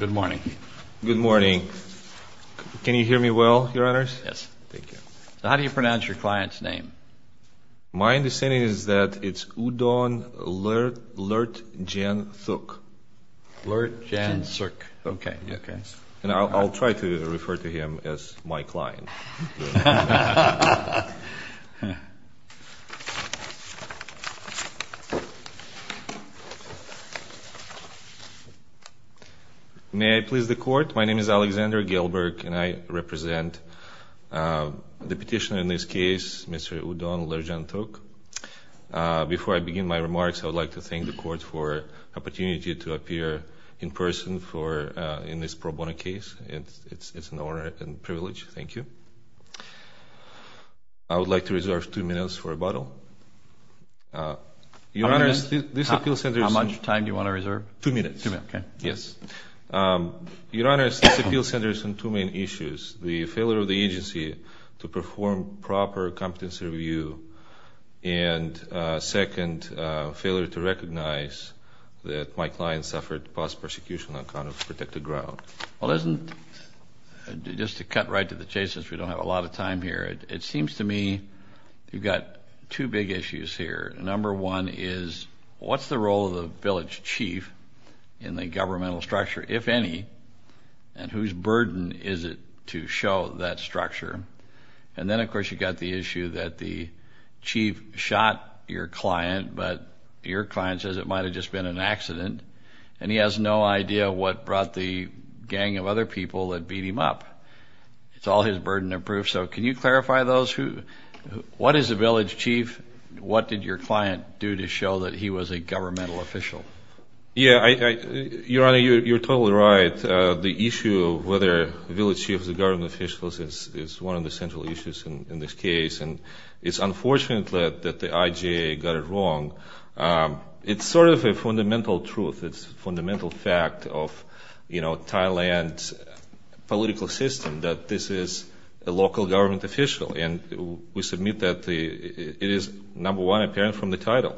Good morning. Good morning. Can you hear me well, Your Honors? Yes. Thank you. How do you pronounce your client's name? My understanding is that it's Udon Lertjanthuk. Lertjanthuk. Okay. And I'll try to refer to him as my client. May I please the Court? My name is Alexander Gelberg, and I represent the petitioner in this case, Mr. Udon Lertjanthuk. Before I begin my remarks, I would like to thank the Court for the opportunity to appear in person in this pro bono case. It's an honor and privilege. Thank you. I would like to reserve two minutes for rebuttal. Your Honors, this appeal center is How much time do you want to reserve? Two minutes. Two minutes. Okay. Yes. Your Honors, this appeal center is on two main issues. The failure of the agency to perform proper competency review, and second, failure to recognize that my client suffered past persecution on account of protected ground. Well, just to cut right to the chase, since we don't have a lot of time here, it seems to me you've got two big issues here. Number one is what's the role of the village chief in the governmental structure, if any, and whose burden is it to show that structure? And then, of course, you've got the issue that the chief shot your client, but your client says it might have just been an accident, and he has no idea what brought the gang of other people that beat him up. It's all his burden of proof. So can you clarify those? What is a village chief? What did your client do to show that he was a governmental official? Yeah. Your Honor, you're totally right. The issue of whether a village chief is a governmental official is one of the central issues in this case, and it's unfortunate that the IJA got it wrong. It's sort of a fundamental truth. It's a fundamental fact of, you know, Thailand's political system that this is a local government official, and we submit that it is, number one, apparent from the title,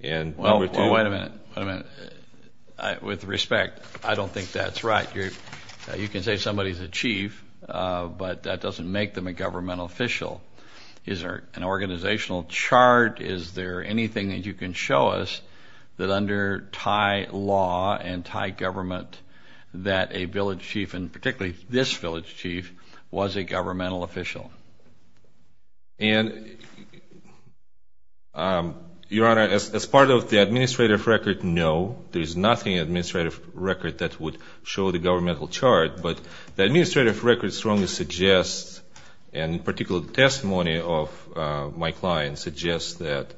and number two. Well, wait a minute. Wait a minute. With respect, I don't think that's right. You can say somebody's a chief, but that doesn't make them a governmental official. Is there an organizational chart? Is there anything that you can show us that under Thai law and Thai government that a village chief, and particularly this village chief, was a governmental official? And, Your Honor, as part of the administrative record, no. There is nothing in the administrative record that would show the governmental chart, but the administrative record strongly suggests, and in particular the testimony of my client suggests, that the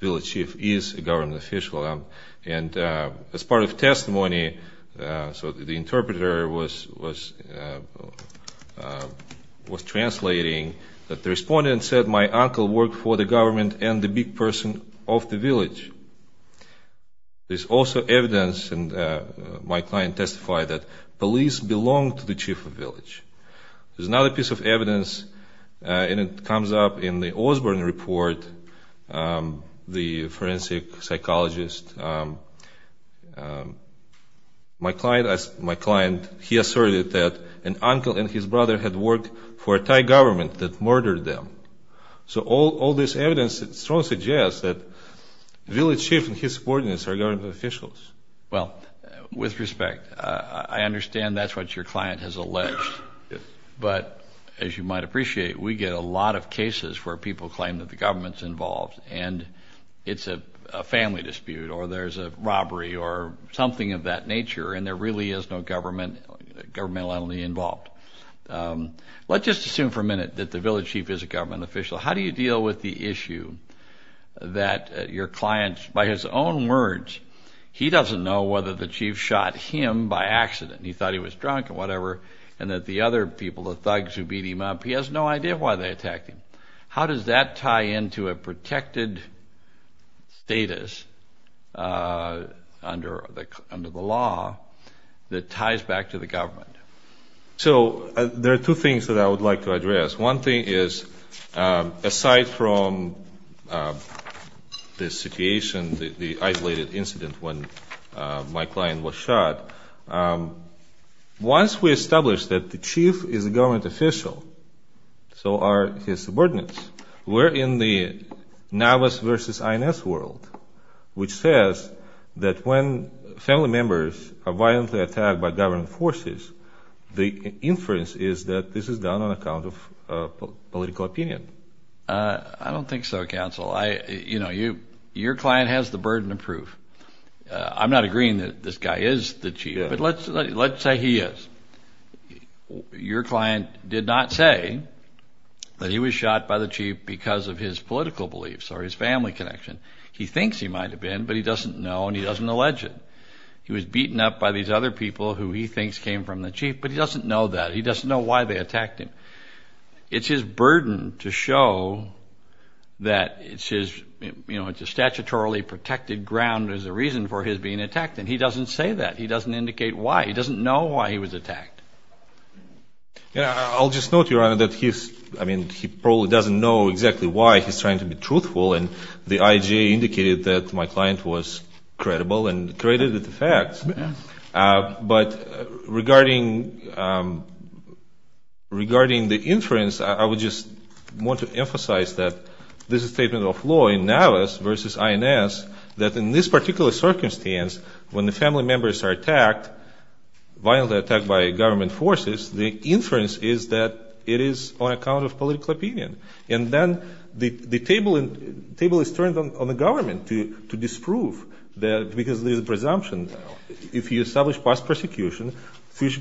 village chief is a governmental official. And as part of testimony, so the interpreter was translating that the respondent said, my uncle worked for the government and the big person of the village. There's also evidence, and my client testified that police belonged to the chief of village. There's another piece of evidence, and it comes up in the Osborne Report, the forensic psychologist. My client, he asserted that an uncle and his brother had worked for a Thai government that murdered them. So all this evidence strongly suggests that village chief and his subordinates are government officials. Well, with respect, I understand that's what your client has alleged. But as you might appreciate, we get a lot of cases where people claim that the government's involved, and it's a family dispute or there's a robbery or something of that nature, and there really is no governmental entity involved. Let's just assume for a minute that the village chief is a government official. How do you deal with the issue that your client, by his own words, he doesn't know whether the chief shot him by accident. He thought he was drunk or whatever, and that the other people, the thugs who beat him up, he has no idea why they attacked him. How does that tie into a protected status under the law that ties back to the government? So there are two things that I would like to address. One thing is, aside from the situation, the isolated incident when my client was shot, once we establish that the chief is a government official, so are his subordinates, we're in the Navas versus INS world, which says that when family members are violently attacked by government forces, the inference is that this is done on account of political opinion. I don't think so, counsel. You know, your client has the burden of proof. I'm not agreeing that this guy is the chief, but let's say he is. Your client did not say that he was shot by the chief because of his political beliefs or his family connection. He thinks he might have been, but he doesn't know and he doesn't allege it. He was beaten up by these other people who he thinks came from the chief, but he doesn't know that. He doesn't know why they attacked him. It's his burden to show that it's his, you know, it's a statutorily protected ground as a reason for his being attacked, and he doesn't say that. He doesn't indicate why. He doesn't know why he was attacked. I'll just note, Your Honor, that he's, I mean, he probably doesn't know exactly why he's trying to be truthful, and the IJA indicated that my client was credible and credited the facts. But regarding the inference, I would just want to emphasize that this is a statement of law in Navis versus INS, that in this particular circumstance, when the family members are attacked, violently attacked by government forces, the inference is that it is on account of political opinion. And then the table is turned on the government to disprove that because there's a presumption. If you establish past persecution, future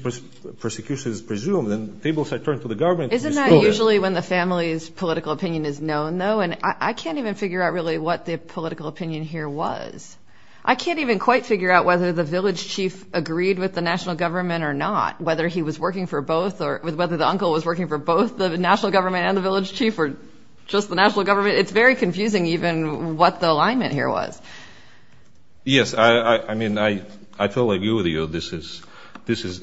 persecution is presumed, and the tables are turned to the government. Isn't that usually when the family's political opinion is known, though? And I can't even figure out really what the political opinion here was. I can't even quite figure out whether the village chief agreed with the national government or not, whether he was working for both or whether the uncle was working for both the national government and the village chief or just the national government. It's very confusing even what the alignment here was. Yes, I mean, I totally agree with you. This is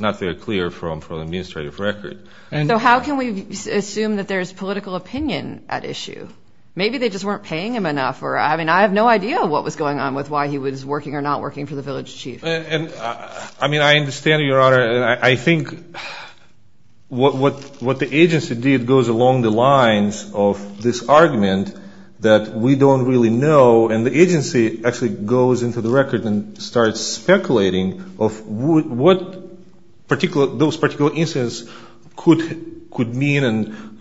not very clear from an administrative record. So how can we assume that there's political opinion at issue? Maybe they just weren't paying him enough, or, I mean, I have no idea what was going on with why he was working or not working for the village chief. I mean, I understand, Your Honor. I think what the agency did goes along the lines of this argument that we don't really know, and the agency actually goes into the record and starts speculating of what those particular instances could mean and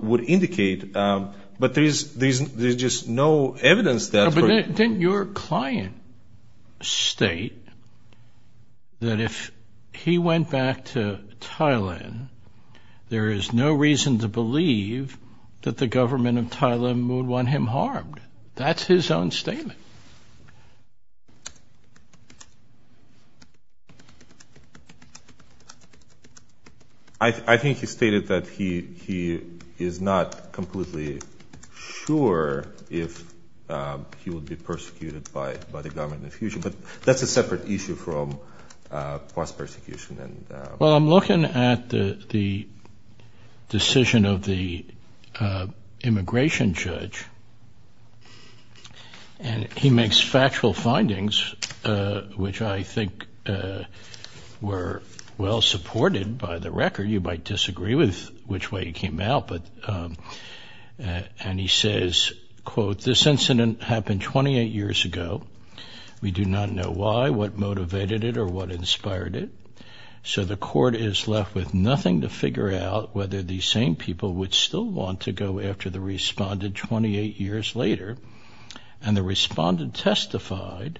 would indicate, but there's just no evidence that. But didn't your client state that if he went back to Thailand, there is no reason to believe that the government of Thailand would want him harmed? That's his own statement. I think he stated that he is not completely sure if he would be persecuted by the government in the future, but that's a separate issue from post-persecution. Well, I'm looking at the decision of the immigration judge, and he makes factual findings, which I think were well-supported by the record. You might disagree with which way he came out, and he says, quote, this incident happened 28 years ago. We do not know why, what motivated it, or what inspired it. So the court is left with nothing to figure out whether these same people would still want to go after the respondent 28 years later, and the respondent testified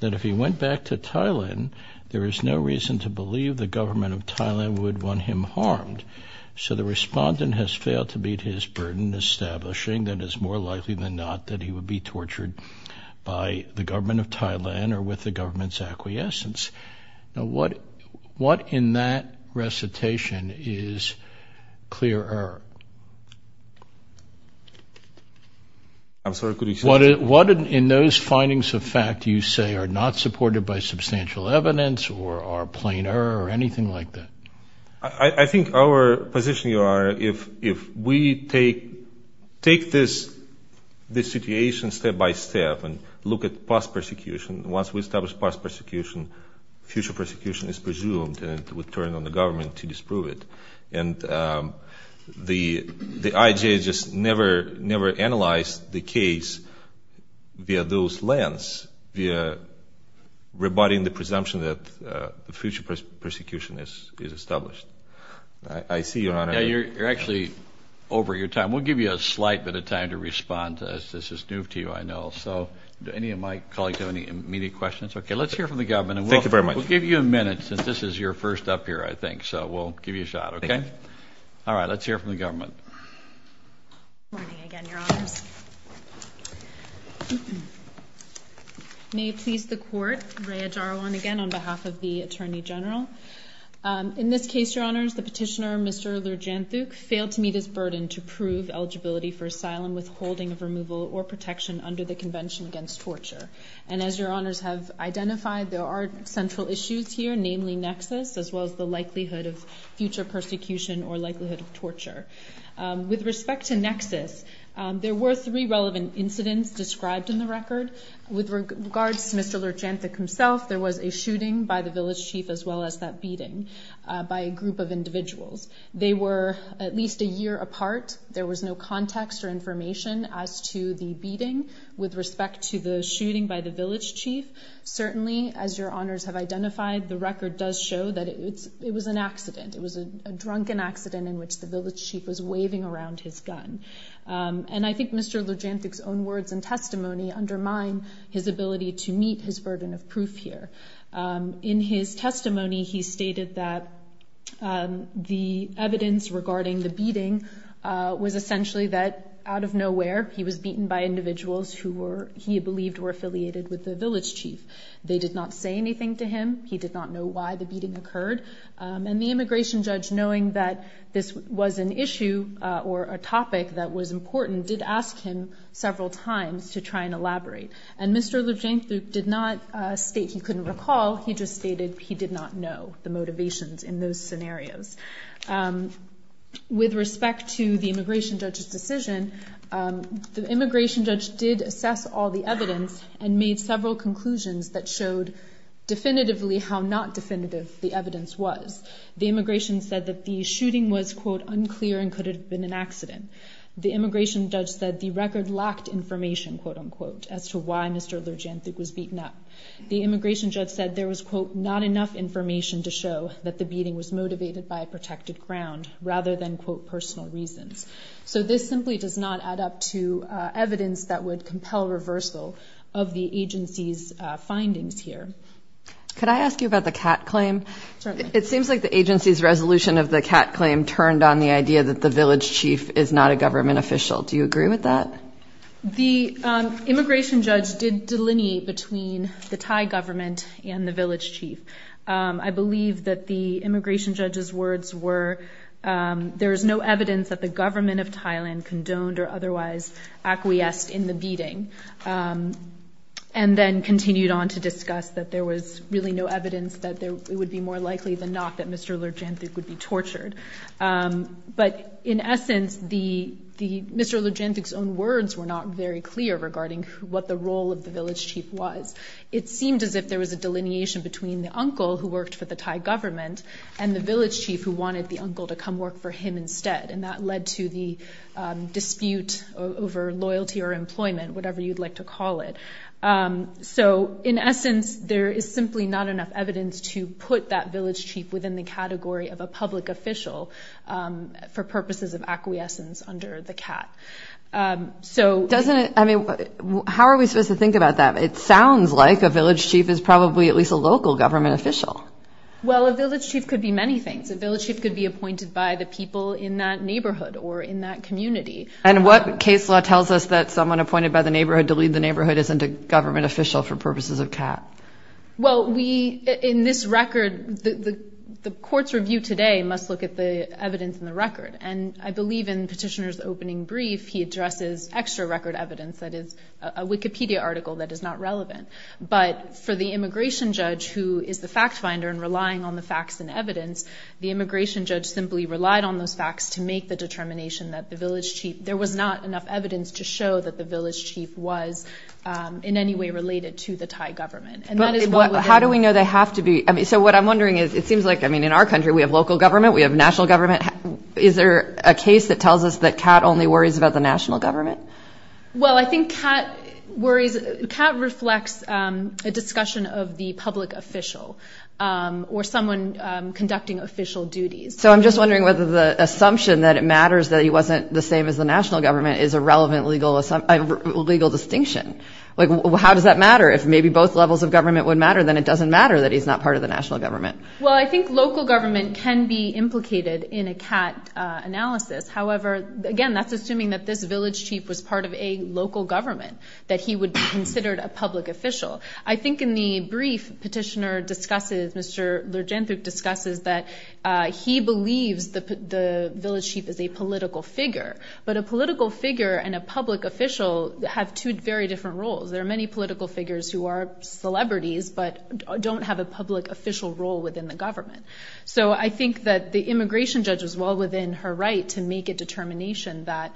that if he went back to Thailand, there is no reason to believe the government of Thailand would want him harmed. So the respondent has failed to meet his burden establishing that it's more likely than not that he would be tortured by the government of Thailand or with the government's acquiescence. Now, what in that recitation is clear error? What in those findings of fact do you say are not supported by substantial evidence or are plain error or anything like that? I think our position, Your Honor, if we take this situation step-by-step and look at post-persecution, once we establish post-persecution, future persecution is presumed, and it would turn on the government to disprove it. And the IJ just never analyzed the case via those lens, via rebutting the presumption that the future persecution is established. I see, Your Honor. You're actually over your time. We'll give you a slight bit of time to respond to us. This is new to you, I know. So do any of my colleagues have any immediate questions? Okay, let's hear from the government. Thank you very much. We'll give you a minute since this is your first up here, I think. So we'll give you a shot, okay? All right, let's hear from the government. Good morning again, Your Honors. May it please the Court, Rhea Dharwan again on behalf of the Attorney General. In this case, Your Honors, the petitioner, Mr. Lerjanthuk, failed to meet his burden to prove eligibility for asylum, withholding of removal or protection under the Convention Against Torture. And as Your Honors have identified, there are central issues here, namely nexus as well as the likelihood of future persecution or likelihood of torture. With respect to nexus, there were three relevant incidents described in the record. With regards to Mr. Lerjanthuk himself, there was a shooting by the village chief as well as that beating by a group of individuals. They were at least a year apart. There was no context or information as to the beating. With respect to the shooting by the village chief, certainly as Your Honors have identified, the record does show that it was an accident. It was a drunken accident in which the village chief was waving around his gun. And I think Mr. Lerjanthuk's own words and testimony undermine his ability to meet his burden of proof here. In his testimony, he stated that the evidence regarding the beating was essentially that out of nowhere he was beaten by individuals who he believed were affiliated with the village chief. They did not say anything to him. He did not know why the beating occurred. And the immigration judge, knowing that this was an issue or a topic that was important, did ask him several times to try and elaborate. And Mr. Lerjanthuk did not state he couldn't recall. He just stated he did not know the motivations in those scenarios. With respect to the immigration judge's decision, the immigration judge did assess all the evidence and made several conclusions that showed definitively how not definitive the evidence was. The immigration said that the shooting was, quote, unclear and could have been an accident. The immigration judge said the record lacked information, quote, unquote, as to why Mr. Lerjanthuk was beaten up. The immigration judge said there was, quote, not enough information to show that the beating was motivated by a protected ground rather than, quote, personal reasons. So this simply does not add up to evidence that would compel reversal of the agency's findings here. Could I ask you about the CAT claim? Certainly. It seems like the agency's resolution of the CAT claim turned on the idea that the village chief is not a government official. Do you agree with that? The immigration judge did delineate between the Thai government and the village chief. I believe that the immigration judge's words were, there is no evidence that the government of Thailand condoned or otherwise acquiesced in the beating, and then continued on to discuss that there was really no evidence that it would be more likely than not that Mr. Lerjanthuk would be tortured. But in essence, Mr. Lerjanthuk's own words were not very clear regarding what the role of the village chief was. It seemed as if there was a delineation between the uncle, who worked for the Thai government, and the village chief who wanted the uncle to come work for him instead, and that led to the dispute over loyalty or employment, whatever you'd like to call it. So in essence, there is simply not enough evidence to put that village chief within the category of a public official for purposes of acquiescence under the CAT. How are we supposed to think about that? It sounds like a village chief is probably at least a local government official. Well, a village chief could be many things. A village chief could be appointed by the people in that neighborhood or in that community. And what case law tells us that someone appointed by the neighborhood to lead the neighborhood isn't a government official for purposes of CAT? Well, we, in this record, the court's review today must look at the evidence in the record. And I believe in Petitioner's opening brief, he addresses extra record evidence, that is a Wikipedia article that is not relevant. But for the immigration judge, who is the fact finder and relying on the facts and evidence, the immigration judge simply relied on those facts to make the determination that the village chief, there was not enough evidence to show that the village chief was in any way related to the Thai government. How do we know they have to be? So what I'm wondering is, it seems like in our country we have local government, we have national government. Is there a case that tells us that CAT only worries about the national government? Well, I think CAT reflects a discussion of the public official or someone conducting official duties. So I'm just wondering whether the assumption that it matters that he wasn't the same as the national government is a relevant legal distinction. How does that matter? If maybe both levels of government would matter, then it doesn't matter that he's not part of the national government. Well, I think local government can be implicated in a CAT analysis. However, again, that's assuming that this village chief was part of a local government, that he would be considered a public official. I think in the brief Petitioner discusses, Mr. Lerjanthuk discusses, that he believes the village chief is a political figure. But a political figure and a public official have two very different roles. There are many political figures who are celebrities but don't have a public official role within the government. So I think that the immigration judge was well within her right to make a determination that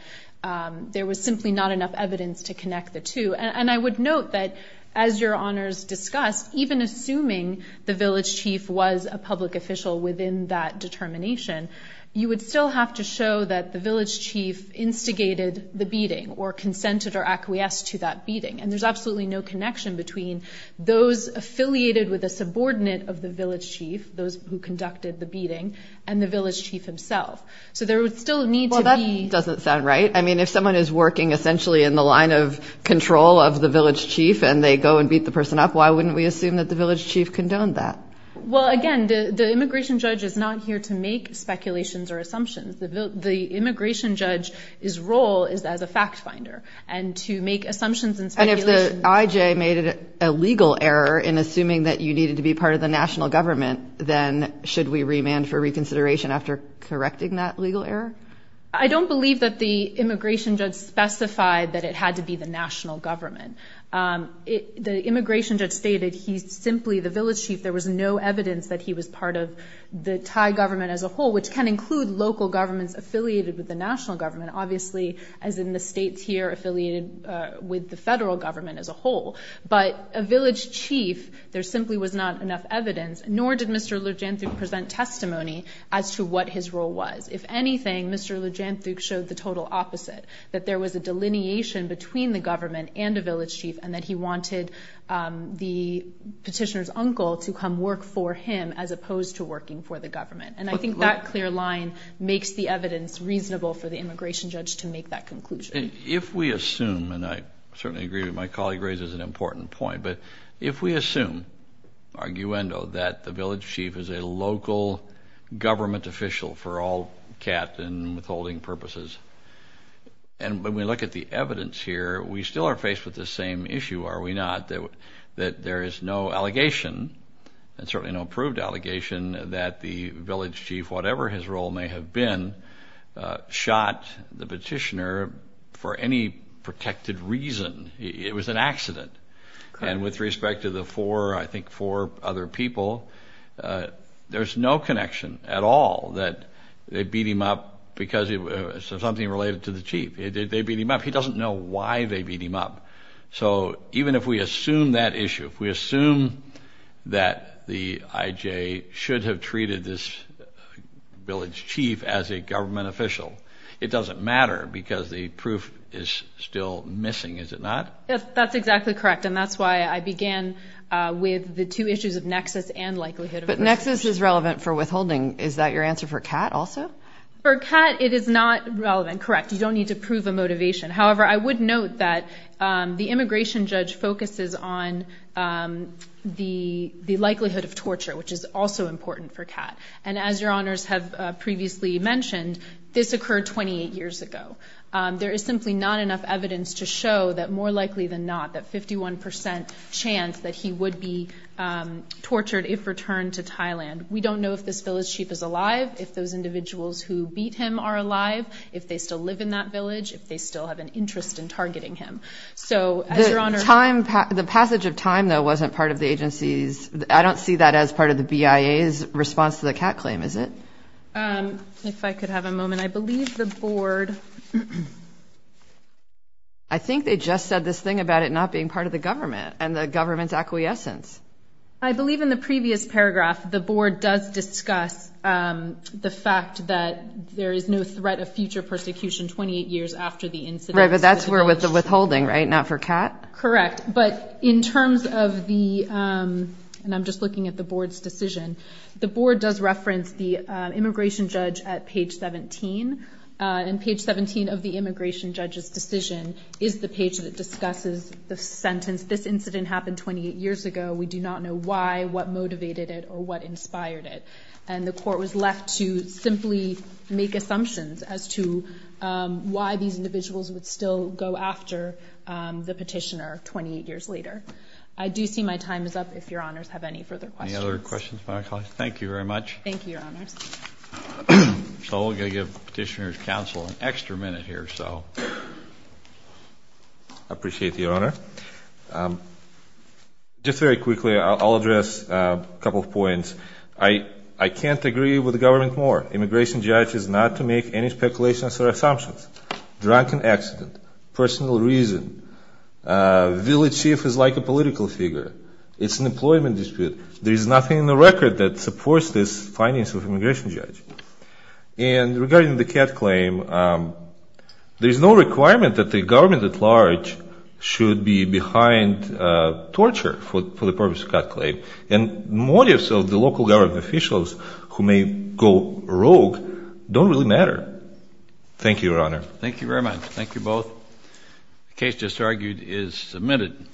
there was simply not enough evidence to connect the two. And I would note that, as your honors discussed, even assuming the village chief was a public official within that determination, you would still have to show that the village chief instigated the beating or consented or acquiesced to that beating. And there's absolutely no connection between those affiliated with a subordinate of the village chief, those who conducted the beating, and the village chief himself. So there would still need to be... Well, that doesn't sound right. I mean, if someone is working essentially in the line of control of the village chief and they go and beat the person up, why wouldn't we assume that the village chief condoned that? Well, again, the immigration judge is not here to make speculations or assumptions. The immigration judge's role is as a fact finder. And to make assumptions and speculations... And if the IJ made a legal error in assuming that you needed to be part of the national government, then should we remand for reconsideration after correcting that legal error? I don't believe that the immigration judge specified that it had to be the national government. The immigration judge stated he's simply the village chief. There was no evidence that he was part of the Thai government as a whole, which can include local governments affiliated with the national government, obviously as in the states here affiliated with the federal government as a whole. But a village chief, there simply was not enough evidence, nor did Mr. Lujantuk present testimony as to what his role was. If anything, Mr. Lujantuk showed the total opposite, that there was a delineation between the government and a village chief and that he wanted the petitioner's uncle to come work for him as opposed to working for the government. And I think that clear line makes the evidence reasonable for the immigration judge to make that conclusion. If we assume, and I certainly agree with my colleague raises an important point, but if we assume, arguendo, that the village chief is a local government official for all cat and withholding purposes, and when we look at the evidence here, we still are faced with the same issue, are we not, that there is no allegation and certainly no proved allegation that the village chief, whatever his role may have been, shot the petitioner for any protected reason. It was an accident. And with respect to the four, I think four other people, there's no connection at all that they beat him up because of something related to the chief. They beat him up. He doesn't know why they beat him up. So even if we assume that issue, if we assume that the IJ should have treated this village chief as a government official, it doesn't matter because the proof is still missing, is it not? That's exactly correct, and that's why I began with the two issues of nexus and likelihood. But nexus is relevant for withholding. Is that your answer for cat also? For cat, it is not relevant, correct. You don't need to prove a motivation. However, I would note that the immigration judge focuses on the likelihood of torture, which is also important for cat. And as your honors have previously mentioned, this occurred 28 years ago. There is simply not enough evidence to show that more likely than not, that 51 percent chance that he would be tortured if returned to Thailand. We don't know if this village chief is alive, if those individuals who beat him are alive, if they still live in that village, if they still have an interest in targeting him. So, as your honors. The passage of time, though, wasn't part of the agency's – I don't see that as part of the BIA's response to the cat claim, is it? If I could have a moment. I believe the board – I think they just said this thing about it not being part of the government and the government's acquiescence. I believe in the previous paragraph the board does discuss the fact that there is no threat of future persecution 28 years after the incident. Right, but that's for withholding, right? Not for cat? Correct. But in terms of the – and I'm just looking at the board's decision. The board does reference the immigration judge at page 17, and page 17 of the immigration judge's decision is the page that discusses the sentence, this incident happened 28 years ago. We do not know why, what motivated it, or what inspired it. And the court was left to simply make assumptions as to why these individuals would still go after the petitioner 28 years later. I do see my time is up if your honors have any further questions. Any other questions? Thank you very much. Thank you, your honors. So we're going to give petitioner's counsel an extra minute here, so. I appreciate the honor. Just very quickly, I'll address a couple of points. I can't agree with the government more. Immigration judge is not to make any speculations or assumptions. Drunken accident, personal reason, village chief is like a political figure. It's an employment dispute. There is nothing in the record that supports this findings of immigration judge. And regarding the CAD claim, there is no requirement that the government at large should be behind torture for the purpose of CAD claim. And motives of the local government officials who may go rogue don't really matter. Thank you, your honor. Thank you very much. Thank you both. The case just argued is submitted.